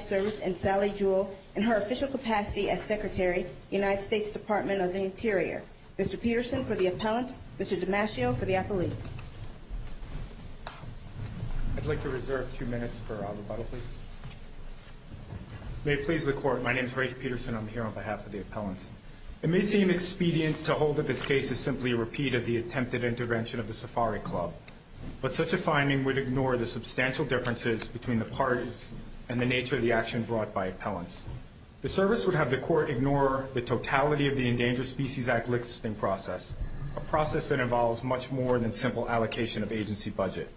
Service and Sally Jewell in her official capacity as Secretary, United States Department of the Interior. Mr. Peterson for the appellants, Mr. DiMascio for the appellees. I'd like to reserve two minutes for rebuttal, please. May it please the Court, my name is Ray Peterson. I'm here on behalf of the United States Fish & Wildlife Service. I'm here on behalf of the appellants. It may seem expedient to hold that this case is simply a repeat of the attempted intervention of the Safari Club. But such a finding would ignore the substantial differences between the parties and the nature of the action brought by appellants. The Service would have the Court ignore the totality of the Endangered Species Act licensing process, a process that involves much more than simple allocation of agency budget.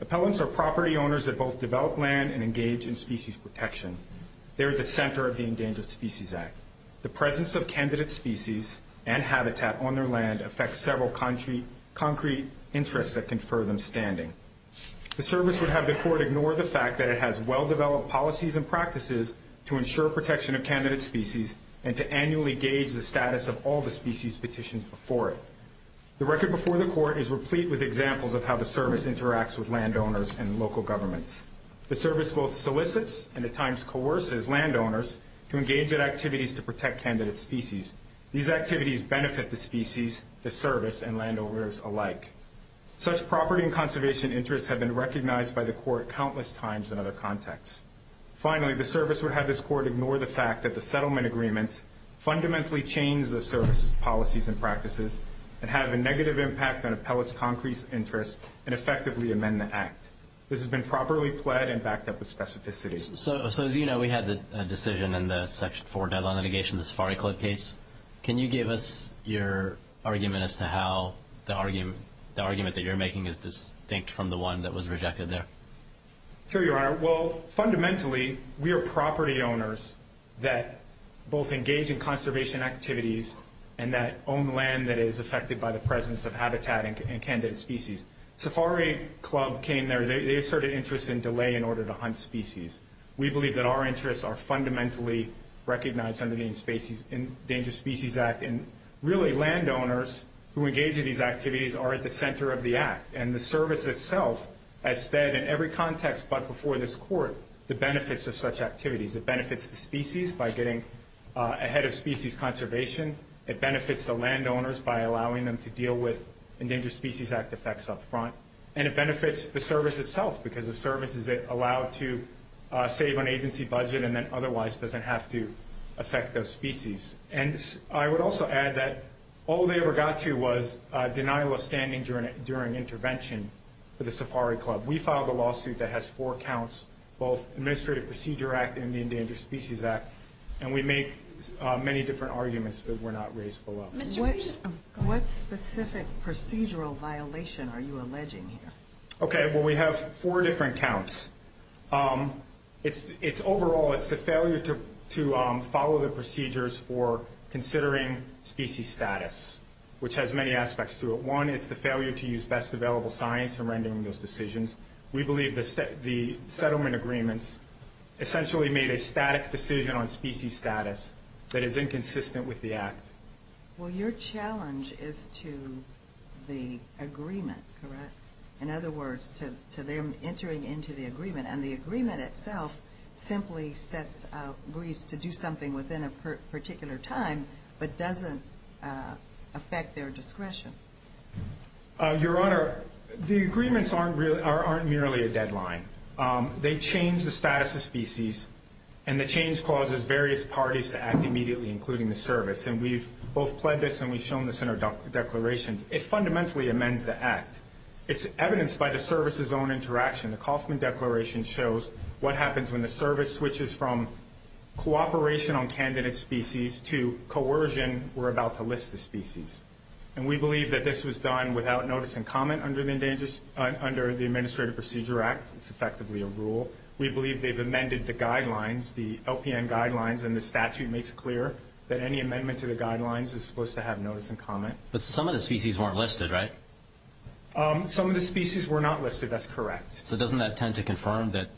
Appellants are property owners that both develop land and engage in species protection. They're at the center of the Endangered Species Act. The presence of candidate species and habitat on their land affects several concrete interests that confer them standing. The Service would have the Court ignore the fact that it has well-developed policies and practices to ensure protection of candidate species and to annually gauge the status of all the species petitioned before it. The record before the Court is replete with examples of how the Service interacts with landowners and local governments. The Service both solicits and at times coerces landowners to engage in activities to protect candidate species. These activities benefit the species, the Service, and landowners alike. Such property and conservation interests have been recognized by the Court countless times in other contexts. Finally, the Service would have this Court ignore the fact that the settlement agreements fundamentally change the Service's policies and practices and have a negative impact on appellants' concrete interests and effectively amend the Act. This has been properly pled and backed up with specificity. So, as you know, we had a decision in the Section 4 deadline litigation, the Safari Club case. Can you give us your argument as to how the argument that you're making is distinct from the one that was rejected there? Sure, Your Honor. Well, fundamentally, we are property owners that both engage in conservation activities and that own land that is affected by the presence of habitat and candidate species. Safari Club came there. They asserted interest in delay in order to hunt species. We believe that our interests are fundamentally recognized under the Endangered Species Act. And really, landowners who engage in these activities are at the center of the Act. And the Service itself has said in every context but before this Court the benefits of such activities. It benefits the species by getting ahead of species conservation. It benefits the landowners by allowing them to deal with Endangered Species Act effects up front. And it benefits the Service itself because the Service is allowed to save on agency budget and then otherwise doesn't have to affect those species. And I would also add that all they ever got to was denial of standing during intervention for the Safari Club. We filed a lawsuit that has four counts, both Administrative Procedure Act and the Endangered Species Act. And we make many different arguments that were not raised below. What specific procedural violation are you alleging here? Okay, well, we have four different counts. Overall, it's the failure to follow the procedures for considering species status, which has many aspects to it. One, it's the failure to use best available science in rendering those decisions. We believe the settlement agreements essentially made a static decision on species status that is inconsistent with the Act. Well, your challenge is to the agreement, correct? In other words, to them entering into the agreement. And the agreement itself simply sets Greece to do something within a particular time but doesn't affect their discretion. Your Honor, the agreements aren't merely a deadline. They change the status of species, and the change causes various parties to act immediately, including the Service. And we've both pledged this and we've shown this in our declarations. It fundamentally amends the Act. It's evidenced by the Service's own interaction. The Kauffman Declaration shows what happens when the Service switches from cooperation on candidate species to coercion. We're about to list the species. And we believe that this was done without notice and comment under the Administrative Procedure Act. It's effectively a rule. We believe they've amended the guidelines, the LPN guidelines, and the statute makes clear that any amendment to the guidelines is supposed to have notice and comment. But some of the species weren't listed, right? Some of the species were not listed. That's correct. So doesn't that tend to confirm that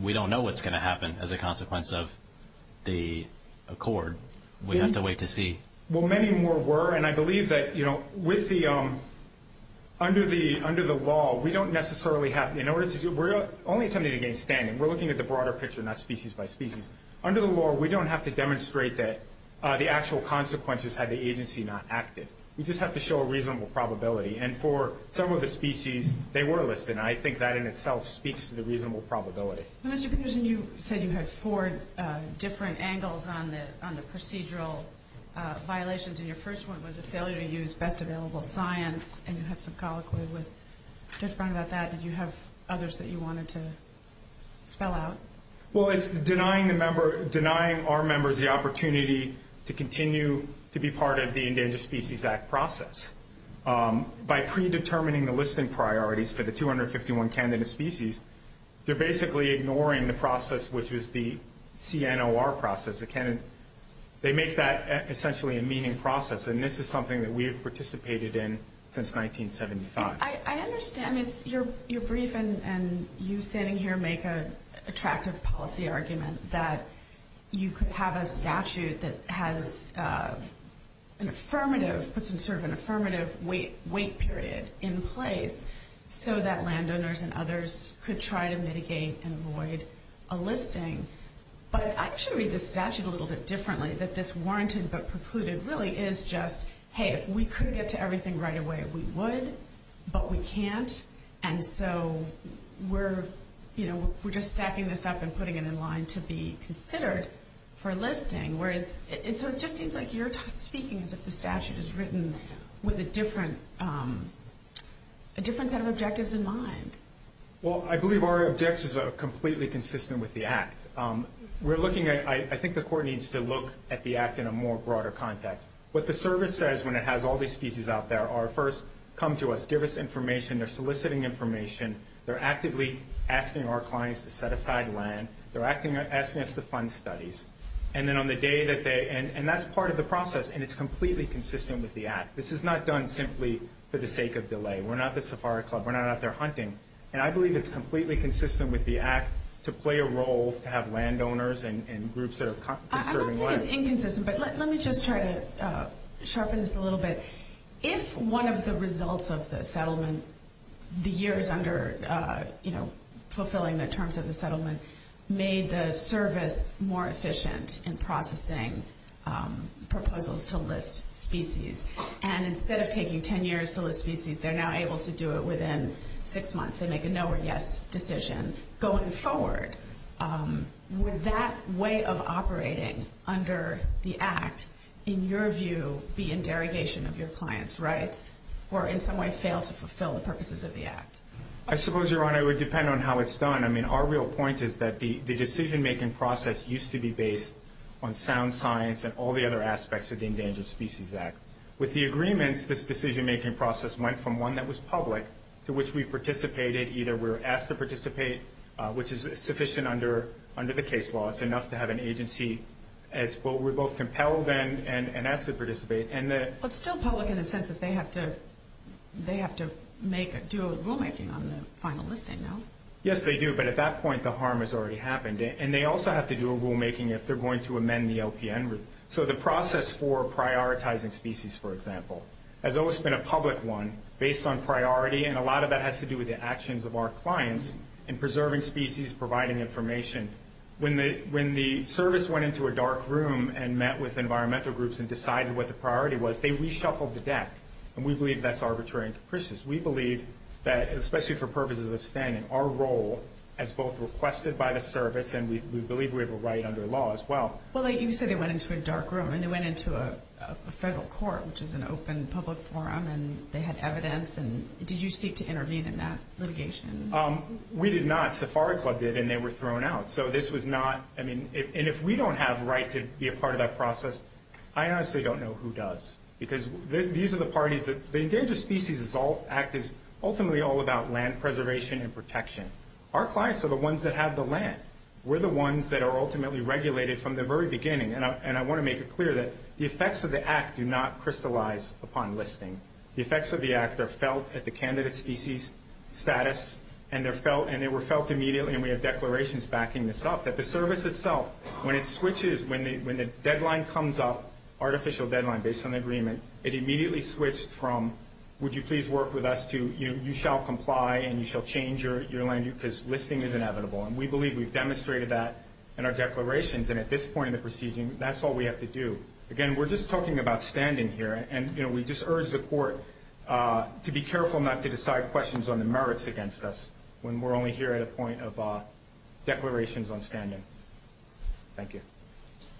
we don't know what's going to happen as a consequence of the accord? We have to wait to see. Well, many more were, and I believe that, you know, with the under the law, we don't necessarily have, in order to do, we're only attempting to gain standing. We're looking at the broader picture, not species by species. Under the law, we don't have to demonstrate that the actual consequences had the agency not acted. We just have to show a reasonable probability. And for some of the species, they were listed, and I think that in itself speaks to the reasonable probability. Mr. Peterson, you said you had four different angles on the procedural violations, and your first one was a failure to use best available science, and you had some colloquy with Judge Brown about that. Did you have others that you wanted to spell out? Well, it's denying our members the opportunity to continue to be part of the Endangered Species Act process. By predetermining the listing priorities for the 251 candidate species, they're basically ignoring the process which was the CNOR process. They make that essentially a meeting process, and this is something that we have participated in since 1975. I understand your brief and you standing here make an attractive policy argument that you could have a statute that has an affirmative, puts in sort of an affirmative wait period in place so that landowners and others could try to mitigate and avoid a listing. But I actually read this statute a little bit differently, that this warranted but precluded really is just, hey, if we could get to everything right away, we would, but we can't, and so we're just stacking this up and putting it in line to be considered for a listing. So it just seems like you're speaking as if the statute is written with a different set of objectives in mind. Well, I believe our objectives are completely consistent with the Act. I think the Court needs to look at the Act in a more broader context. What the service says when it has all these species out there are first, come to us, give us information. They're soliciting information. They're actively asking our clients to set aside land. They're asking us to fund studies. And then on the day that they end, and that's part of the process, and it's completely consistent with the Act. This is not done simply for the sake of delay. We're not the safari club. We're not out there hunting. And I believe it's completely consistent with the Act to play a role to have landowners and groups that are conserving land. I'm not saying it's inconsistent, but let me just try to sharpen this a little bit. If one of the results of the settlement, the years under fulfilling the terms of the settlement, made the service more efficient in processing proposals to list species, and instead of taking 10 years to list species, they're now able to do it within six months. They make a no or yes decision going forward. Would that way of operating under the Act, in your view, be in derogation of your clients' rights or in some way fail to fulfill the purposes of the Act? I suppose, Your Honor, it would depend on how it's done. I mean, our real point is that the decision-making process used to be based on sound science and all the other aspects of the Endangered Species Act. With the agreements, this decision-making process went from one that was public to which we participated. Either we were asked to participate, which is sufficient under the case law. It's enough to have an agency where we're both compelled and asked to participate. But still public in the sense that they have to do a rulemaking on the final listing, no? Yes, they do, but at that point, the harm has already happened. And they also have to do a rulemaking if they're going to amend the LPN rule. So the process for prioritizing species, for example, has always been a public one based on priority, and a lot of that has to do with the actions of our clients in preserving species, providing information. When the service went into a dark room and met with environmental groups and decided what the priority was, they reshuffled the deck, and we believe that's arbitrary and capricious. We believe that, especially for purposes of standing, our role as both requested by the service and we believe we have a right under law as well. Well, you said they went into a dark room, and they went into a federal court, which is an open public forum, and they had evidence. Did you seek to intervene in that litigation? We did not. Safari Club did, and they were thrown out. And if we don't have a right to be a part of that process, I honestly don't know who does. Because the Endangered Species Act is ultimately all about land preservation and protection. Our clients are the ones that have the land. We're the ones that are ultimately regulated from the very beginning. And I want to make it clear that the effects of the act do not crystallize upon listing. The effects of the act are felt at the candidate's species status, and they were felt immediately, and we have declarations backing this up, that the service itself, when it switches, when the deadline comes up, artificial deadline based on agreement, it immediately switched from, would you please work with us to you shall comply and you shall change your land because listing is inevitable. And we believe we've demonstrated that in our declarations, and at this point in the proceeding, that's all we have to do. Again, we're just talking about standing here, and we just urge the court to be careful not to decide questions on the merits against us when we're only here at a point of declarations on standing. Thank you.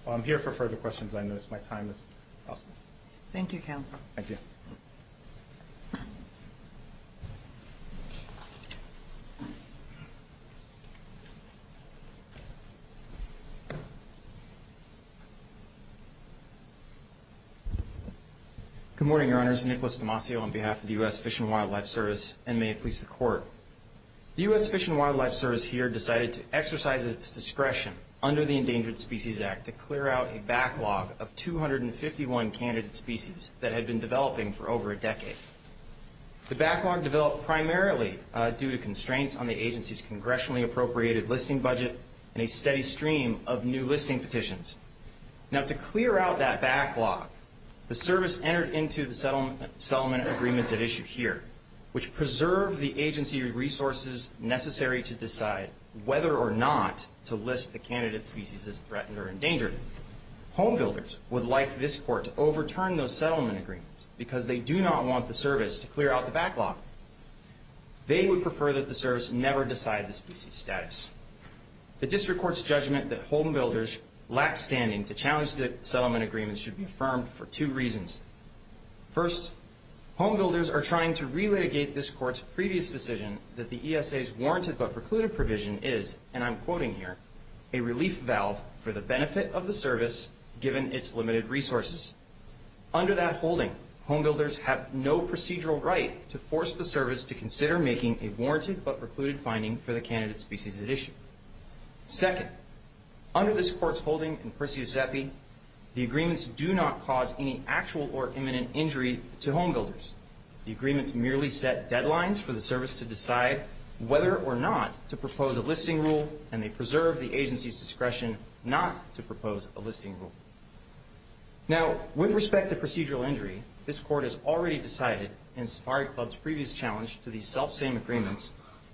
While I'm here for further questions, I notice my time is up. Thank you, counsel. Thank you. Good morning, Your Honors. Nicholas Demasio on behalf of the U.S. Fish and Wildlife Service, and may it please the court. The U.S. Fish and Wildlife Service here decided to exercise its discretion under the Endangered Species Act to clear out a backlog of 251 candidate species that had been developing for over a decade. The backlog developed primarily due to constraints on the agency's congressionally appropriated listing budget and a steady stream of new listing petitions. Now, to clear out that backlog, the service entered into the settlement agreements at issue here, which preserve the agency resources necessary to decide whether or not to list the candidate species as threatened or endangered. Homebuilders would like this court to overturn those settlement agreements because they do not want the service to clear out the backlog. They would prefer that the service never decide the species status. The district court's judgment that homebuilders lack standing to challenge the settlement agreements should be affirmed for two reasons. First, homebuilders are trying to relitigate this court's previous decision that the ESA's warranted but precluded provision is, and I'm quoting here, a relief valve for the benefit of the service given its limited resources. Under that holding, homebuilders have no procedural right to force the service to consider making a warranted but precluded finding for the candidate species at issue. Second, under this court's holding in Perseus Zepi, the agreements do not cause any actual or imminent injury to homebuilders. The agreements merely set deadlines for the service to decide whether or not to propose a listing rule, and they preserve the agency's discretion not to propose a listing rule. Now, with respect to procedural injury, this court has already decided, in Safari Club's previous challenge to these self-same agreements,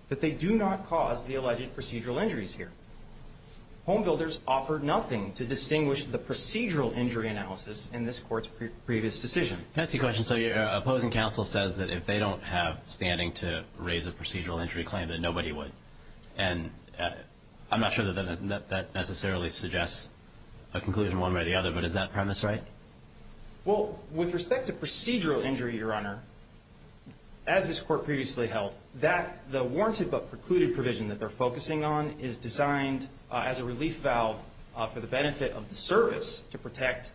that they do not cause the alleged procedural injuries here. Homebuilders offered nothing to distinguish the procedural injury analysis in this court's previous decision. Can I ask you a question? So your opposing counsel says that if they don't have standing to raise a procedural injury claim, that nobody would, and I'm not sure that that necessarily suggests a conclusion one way or the other, but is that premise right? Well, with respect to procedural injury, Your Honor, as this court previously held, that the warranted but precluded provision that they're focusing on is designed as a relief valve for the benefit of the service to protect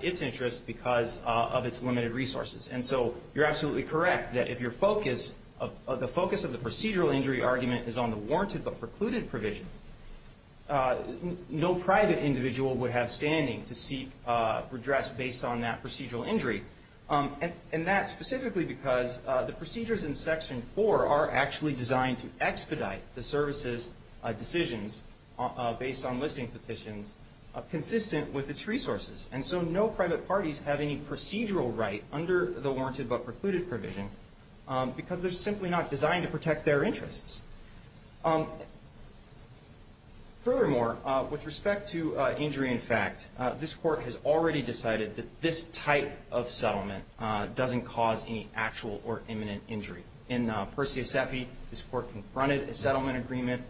its interests because of its limited resources. And so you're absolutely correct that if your focus, the focus of the procedural injury argument is on the warranted but precluded provision, no private individual would have standing to seek redress based on that procedural injury. And that's specifically because the procedures in Section 4 are actually designed to expedite the service's decisions based on listing petitions consistent with its resources. And so no private parties have any procedural right under the warranted but precluded provision because they're simply not designed to protect their interests. Furthermore, with respect to injury in fact, this Court has already decided that this type of settlement doesn't cause any actual or imminent injury. In Per se sepi, this Court confronted a settlement agreement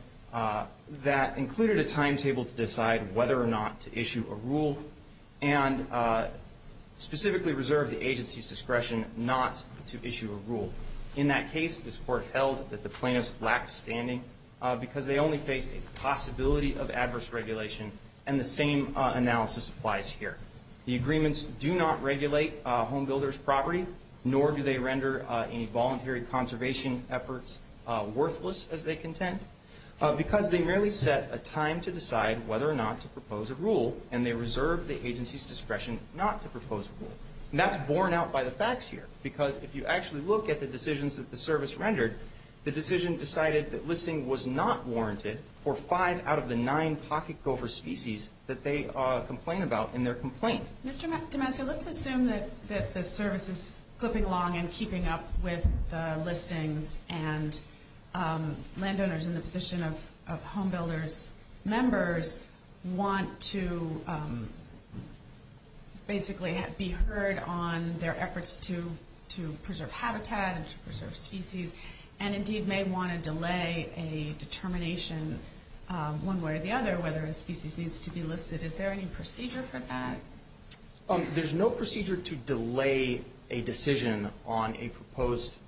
that included a timetable to decide whether or not to issue a rule and specifically reserved the agency's discretion not to issue a rule. In that case, this Court held that the plaintiffs lacked standing because they only faced a possibility of adverse regulation and the same analysis applies here. The agreements do not regulate homebuilders' property, nor do they render any voluntary conservation efforts worthless, as they contend, because they merely set a time to decide whether or not to propose a rule and they reserved the agency's discretion not to propose a rule. And that's borne out by the facts here because if you actually look at the decisions that the service rendered, the decision decided that listing was not warranted for five out of the nine pocket gopher species that they complain about in their complaint. Mr. Damasio, let's assume that the service is clipping along and keeping up with the listings and landowners in the position of homebuilders' members want to basically be heard on their efforts to preserve habitat and to preserve species and indeed may want to delay a determination one way or the other whether a species needs to be listed. Is there any procedure for that? There's no procedure to delay a decision on a proposed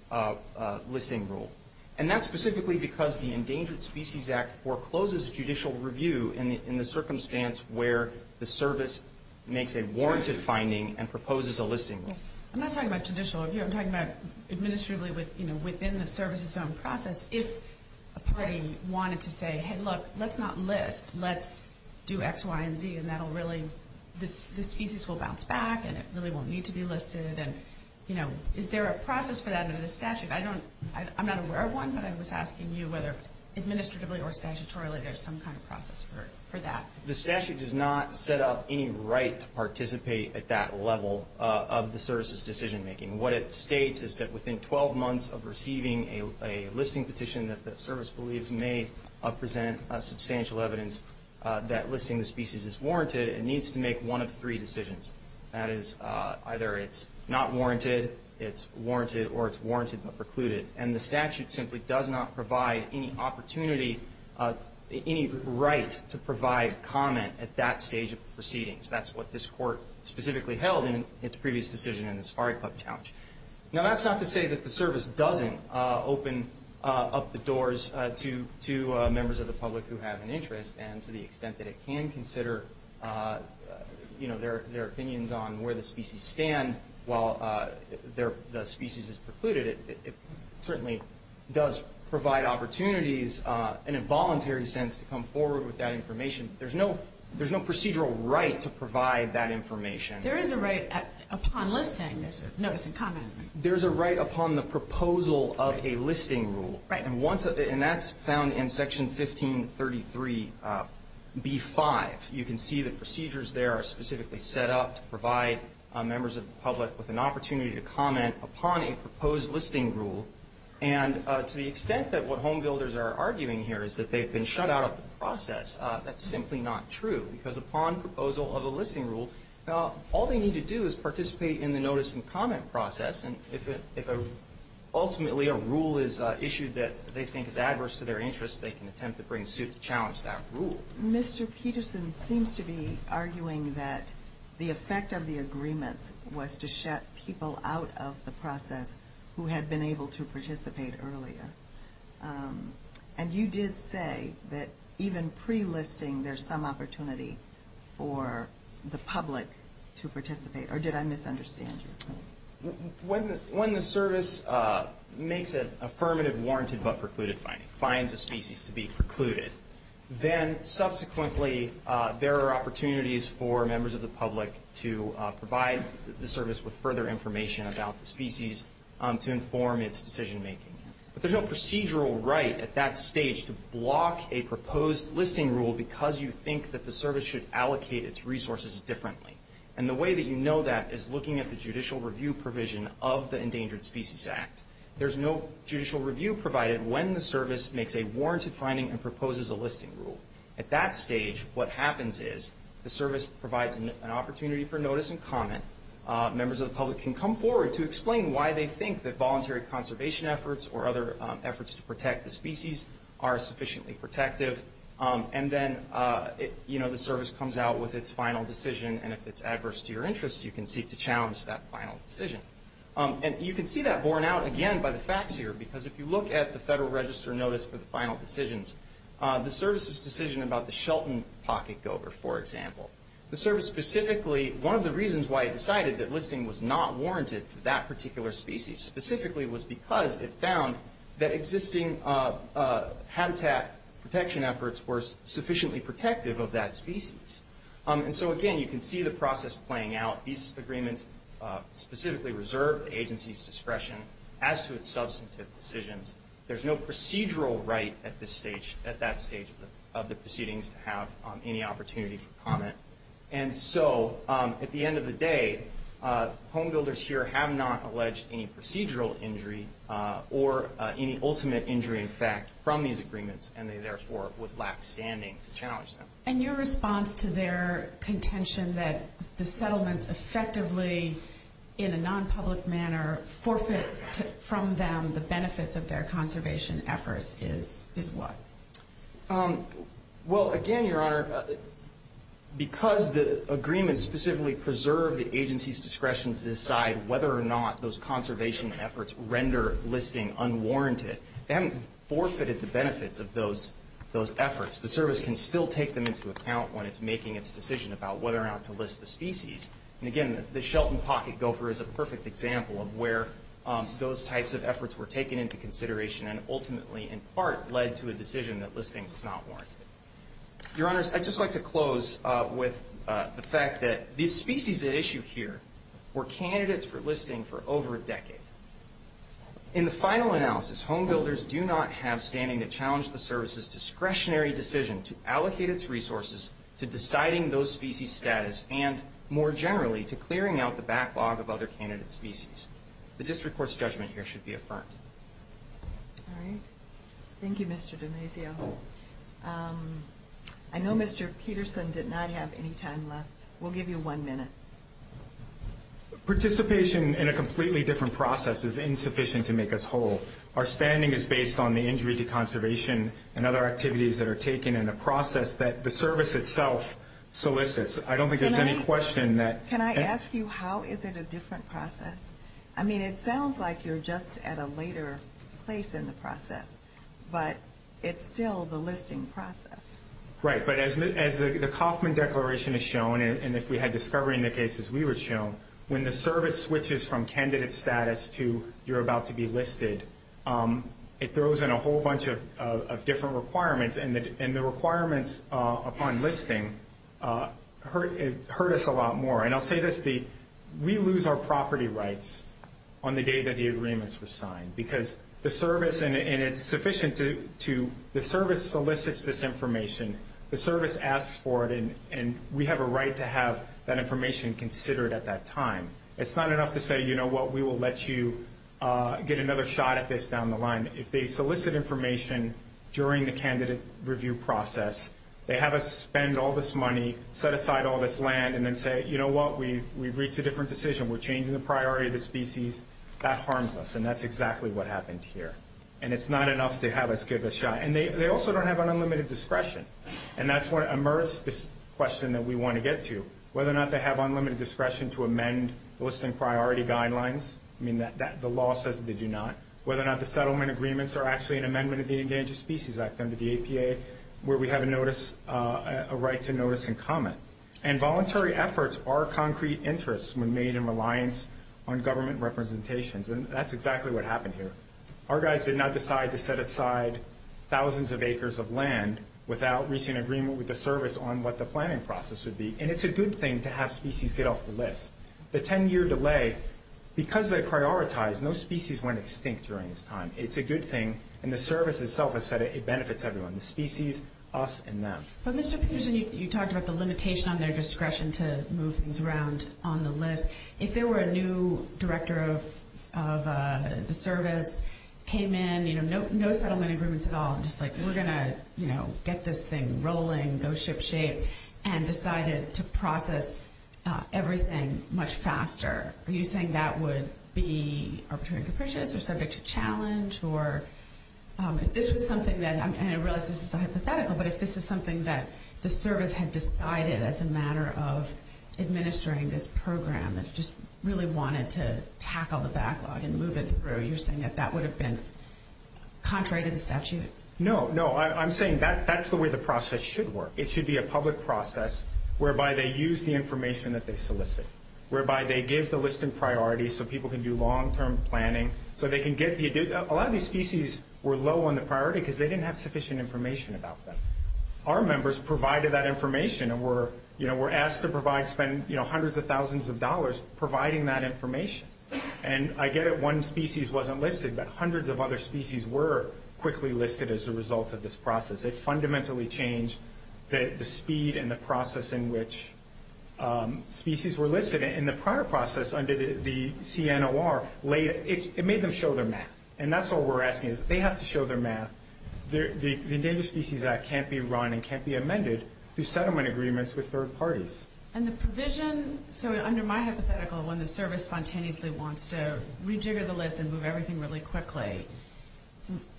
listing rule. And that's specifically because the Endangered Species Act forecloses judicial review in the circumstance where the service makes a warranted finding and proposes a listing. I'm not talking about judicial review. I'm talking about administratively within the service's own process. If a party wanted to say, hey, look, let's not list. Let's do X, Y, and Z, and that'll really, this species will bounce back and it really won't need to be listed. And, you know, is there a process for that under the statute? I don't, I'm not aware of one, but I was asking you whether administratively or statutorily there's some kind of process for that. The statute does not set up any right to participate at that level of the service's decision making. What it states is that within 12 months of receiving a listing petition that the service believes may present substantial evidence that listing the species is warranted, it needs to make one of three decisions. That is, either it's not warranted, it's warranted, or it's warranted but precluded. And the statute simply does not provide any opportunity, any right to provide comment at that stage of proceedings. That's what this Court specifically held in its previous decision in the Safari Club challenge. Now that's not to say that the service doesn't open up the doors to members of the public who have an interest and to the extent that it can consider, you know, their opinions on where the species stand while the species is precluded. It certainly does provide opportunities in a voluntary sense to come forward with that information. There's no procedural right to provide that information. There is a right upon listing, notice and comment. There's a right upon the proposal of a listing rule. Right. And that's found in Section 1533b-5. You can see the procedures there are specifically set up to provide members of the public with an opportunity to comment upon a proposed listing rule. And to the extent that what home builders are arguing here is that they've been shut out of the process, that's simply not true. Because upon proposal of a listing rule, all they need to do is participate in the notice and comment process. And if ultimately a rule is issued that they think is adverse to their interests, they can attempt to bring suit to challenge that rule. Mr. Peterson seems to be arguing that the effect of the agreements was to shut people out of the process who had been able to participate earlier. And you did say that even pre-listing there's some opportunity for the public to participate. Or did I misunderstand you? When the service makes an affirmative warranted but precluded finding, finds a species to be precluded, then subsequently there are opportunities for members of the public to provide the service with further information about the species to inform its decision making. But there's no procedural right at that stage to block a proposed listing rule because you think that the service should allocate its resources differently. And the way that you know that is looking at the judicial review provision of the Endangered Species Act. There's no judicial review provided when the service makes a warranted finding and proposes a listing rule. At that stage, what happens is the service provides an opportunity for notice and comment. Members of the public can come forward to explain why they think that voluntary conservation efforts or other efforts to protect the species are sufficiently protective. And then, you know, the service comes out with its final decision. And if it's adverse to your interests, you can seek to challenge that final decision. And you can see that borne out again by the facts here because if you look at the Federal Register notice for the final decisions, the service's decision about the Shelton pocket gober, for example, the service specifically, one of the reasons why it decided that listing was not warranted for that particular species specifically was because it found that existing habitat protection efforts were sufficiently protective of that species. And so, again, you can see the process playing out. These agreements specifically reserve the agency's discretion as to its substantive decisions. There's no procedural right at that stage of the proceedings to have any opportunity for comment. And so, at the end of the day, home builders here have not alleged any procedural injury or any ultimate injury, in fact, from these agreements, and they therefore would lack standing to challenge them. And your response to their contention that the settlements effectively, in a non-public manner, forfeit from them the benefits of their conservation efforts is what? Well, again, Your Honor, because the agreements specifically preserve the agency's discretion to decide whether or not those conservation efforts render listing unwarranted, they haven't forfeited the benefits of those efforts. The service can still take them into account when it's making its decision about whether or not to list the species. And, again, the Shelton Pocket Gopher is a perfect example of where those types of efforts were taken into consideration and ultimately, in part, led to a decision that listing was not warranted. Your Honors, I'd just like to close with the fact that these species at issue here were candidates for listing for over a decade. In the final analysis, home builders do not have standing to challenge the service's discretionary decision to allocate its resources to deciding those species' status and, more generally, to clearing out the backlog of other candidate species. The district court's judgment here should be affirmed. All right. Thank you, Mr. Damasio. I know Mr. Peterson did not have any time left. We'll give you one minute. Participation in a completely different process is insufficient to make us whole. Our standing is based on the injury to conservation and other activities that are taken in the process that the service itself solicits. I don't think there's any question that ---- Can I ask you how is it a different process? I mean, it sounds like you're just at a later place in the process, but it's still the listing process. Right. But as the Kauffman Declaration has shown, and if we had discovery in the cases we were shown, when the service switches from candidate status to you're about to be listed, it throws in a whole bunch of different requirements, and the requirements upon listing hurt us a lot more. And I'll say this. We lose our property rights on the day that the agreements were signed because the service, and it's sufficient to the service solicits this information, the service asks for it, and we have a right to have that information considered at that time. It's not enough to say, you know what, we will let you get another shot at this down the line. If they solicit information during the candidate review process, they have us spend all this money, set aside all this land, and then say, you know what, we've reached a different decision. We're changing the priority of the species. That harms us, and that's exactly what happened here. And it's not enough to have us give a shot. And they also don't have unlimited discretion. And that's what immersed this question that we want to get to, whether or not they have unlimited discretion to amend listing priority guidelines. I mean, the law says they do not. Whether or not the settlement agreements are actually an amendment of the Endangered Species Act under the APA where we have a notice, a right to notice and comment. And voluntary efforts are concrete interests when made in reliance on government representations, and that's exactly what happened here. Our guys did not decide to set aside thousands of acres of land without reaching an agreement with the service on what the planning process would be. And it's a good thing to have species get off the list. The 10-year delay, because they prioritized, no species went extinct during this time. It's a good thing, and the service itself has said it benefits everyone, the species, us, and them. But, Mr. Peterson, you talked about the limitation on their discretion to move things around on the list. If there were a new director of the service, came in, you know, no settlement agreements at all, and just like, we're going to, you know, get this thing rolling, go ship shape, and decided to process everything much faster, are you saying that would be arbitrary and capricious or subject to challenge, or if this was something that, and I realize this is a hypothetical, but if this is something that the service had decided as a matter of administering this program and just really wanted to tackle the backlog and move it through, you're saying that that would have been contrary to the statute? No, no, I'm saying that's the way the process should work. It should be a public process whereby they use the information that they solicit, whereby they give the listing priorities so people can do long-term planning, so they can get the, a lot of these species were low on the priority because they didn't have sufficient information about them. Our members provided that information and were, you know, were asked to provide, spend, you know, hundreds of thousands of dollars providing that information. And I get it, one species wasn't listed, but hundreds of other species were quickly listed as a result of this process. It fundamentally changed the speed and the process in which species were listed. And the prior process under the CNOR, it made them show their math. And that's what we're asking is they have to show their math. The Endangered Species Act can't be run and can't be amended through settlement agreements with third parties. And the provision, so under my hypothetical, when the service spontaneously wants to rejigger the list and move everything really quickly,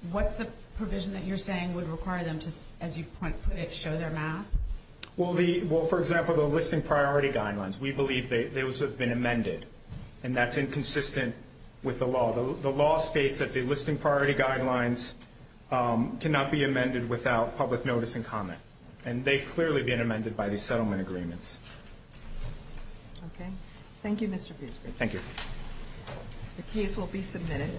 what's the provision that you're saying would require them to, as you put it, show their math? Well, for example, the listing priority guidelines. We believe those have been amended, and that's inconsistent with the law. The law states that the listing priority guidelines cannot be amended without public notice and comment. And they've clearly been amended by the settlement agreements. Okay. Thank you, Mr. Peterson. Thank you. The case will be submitted.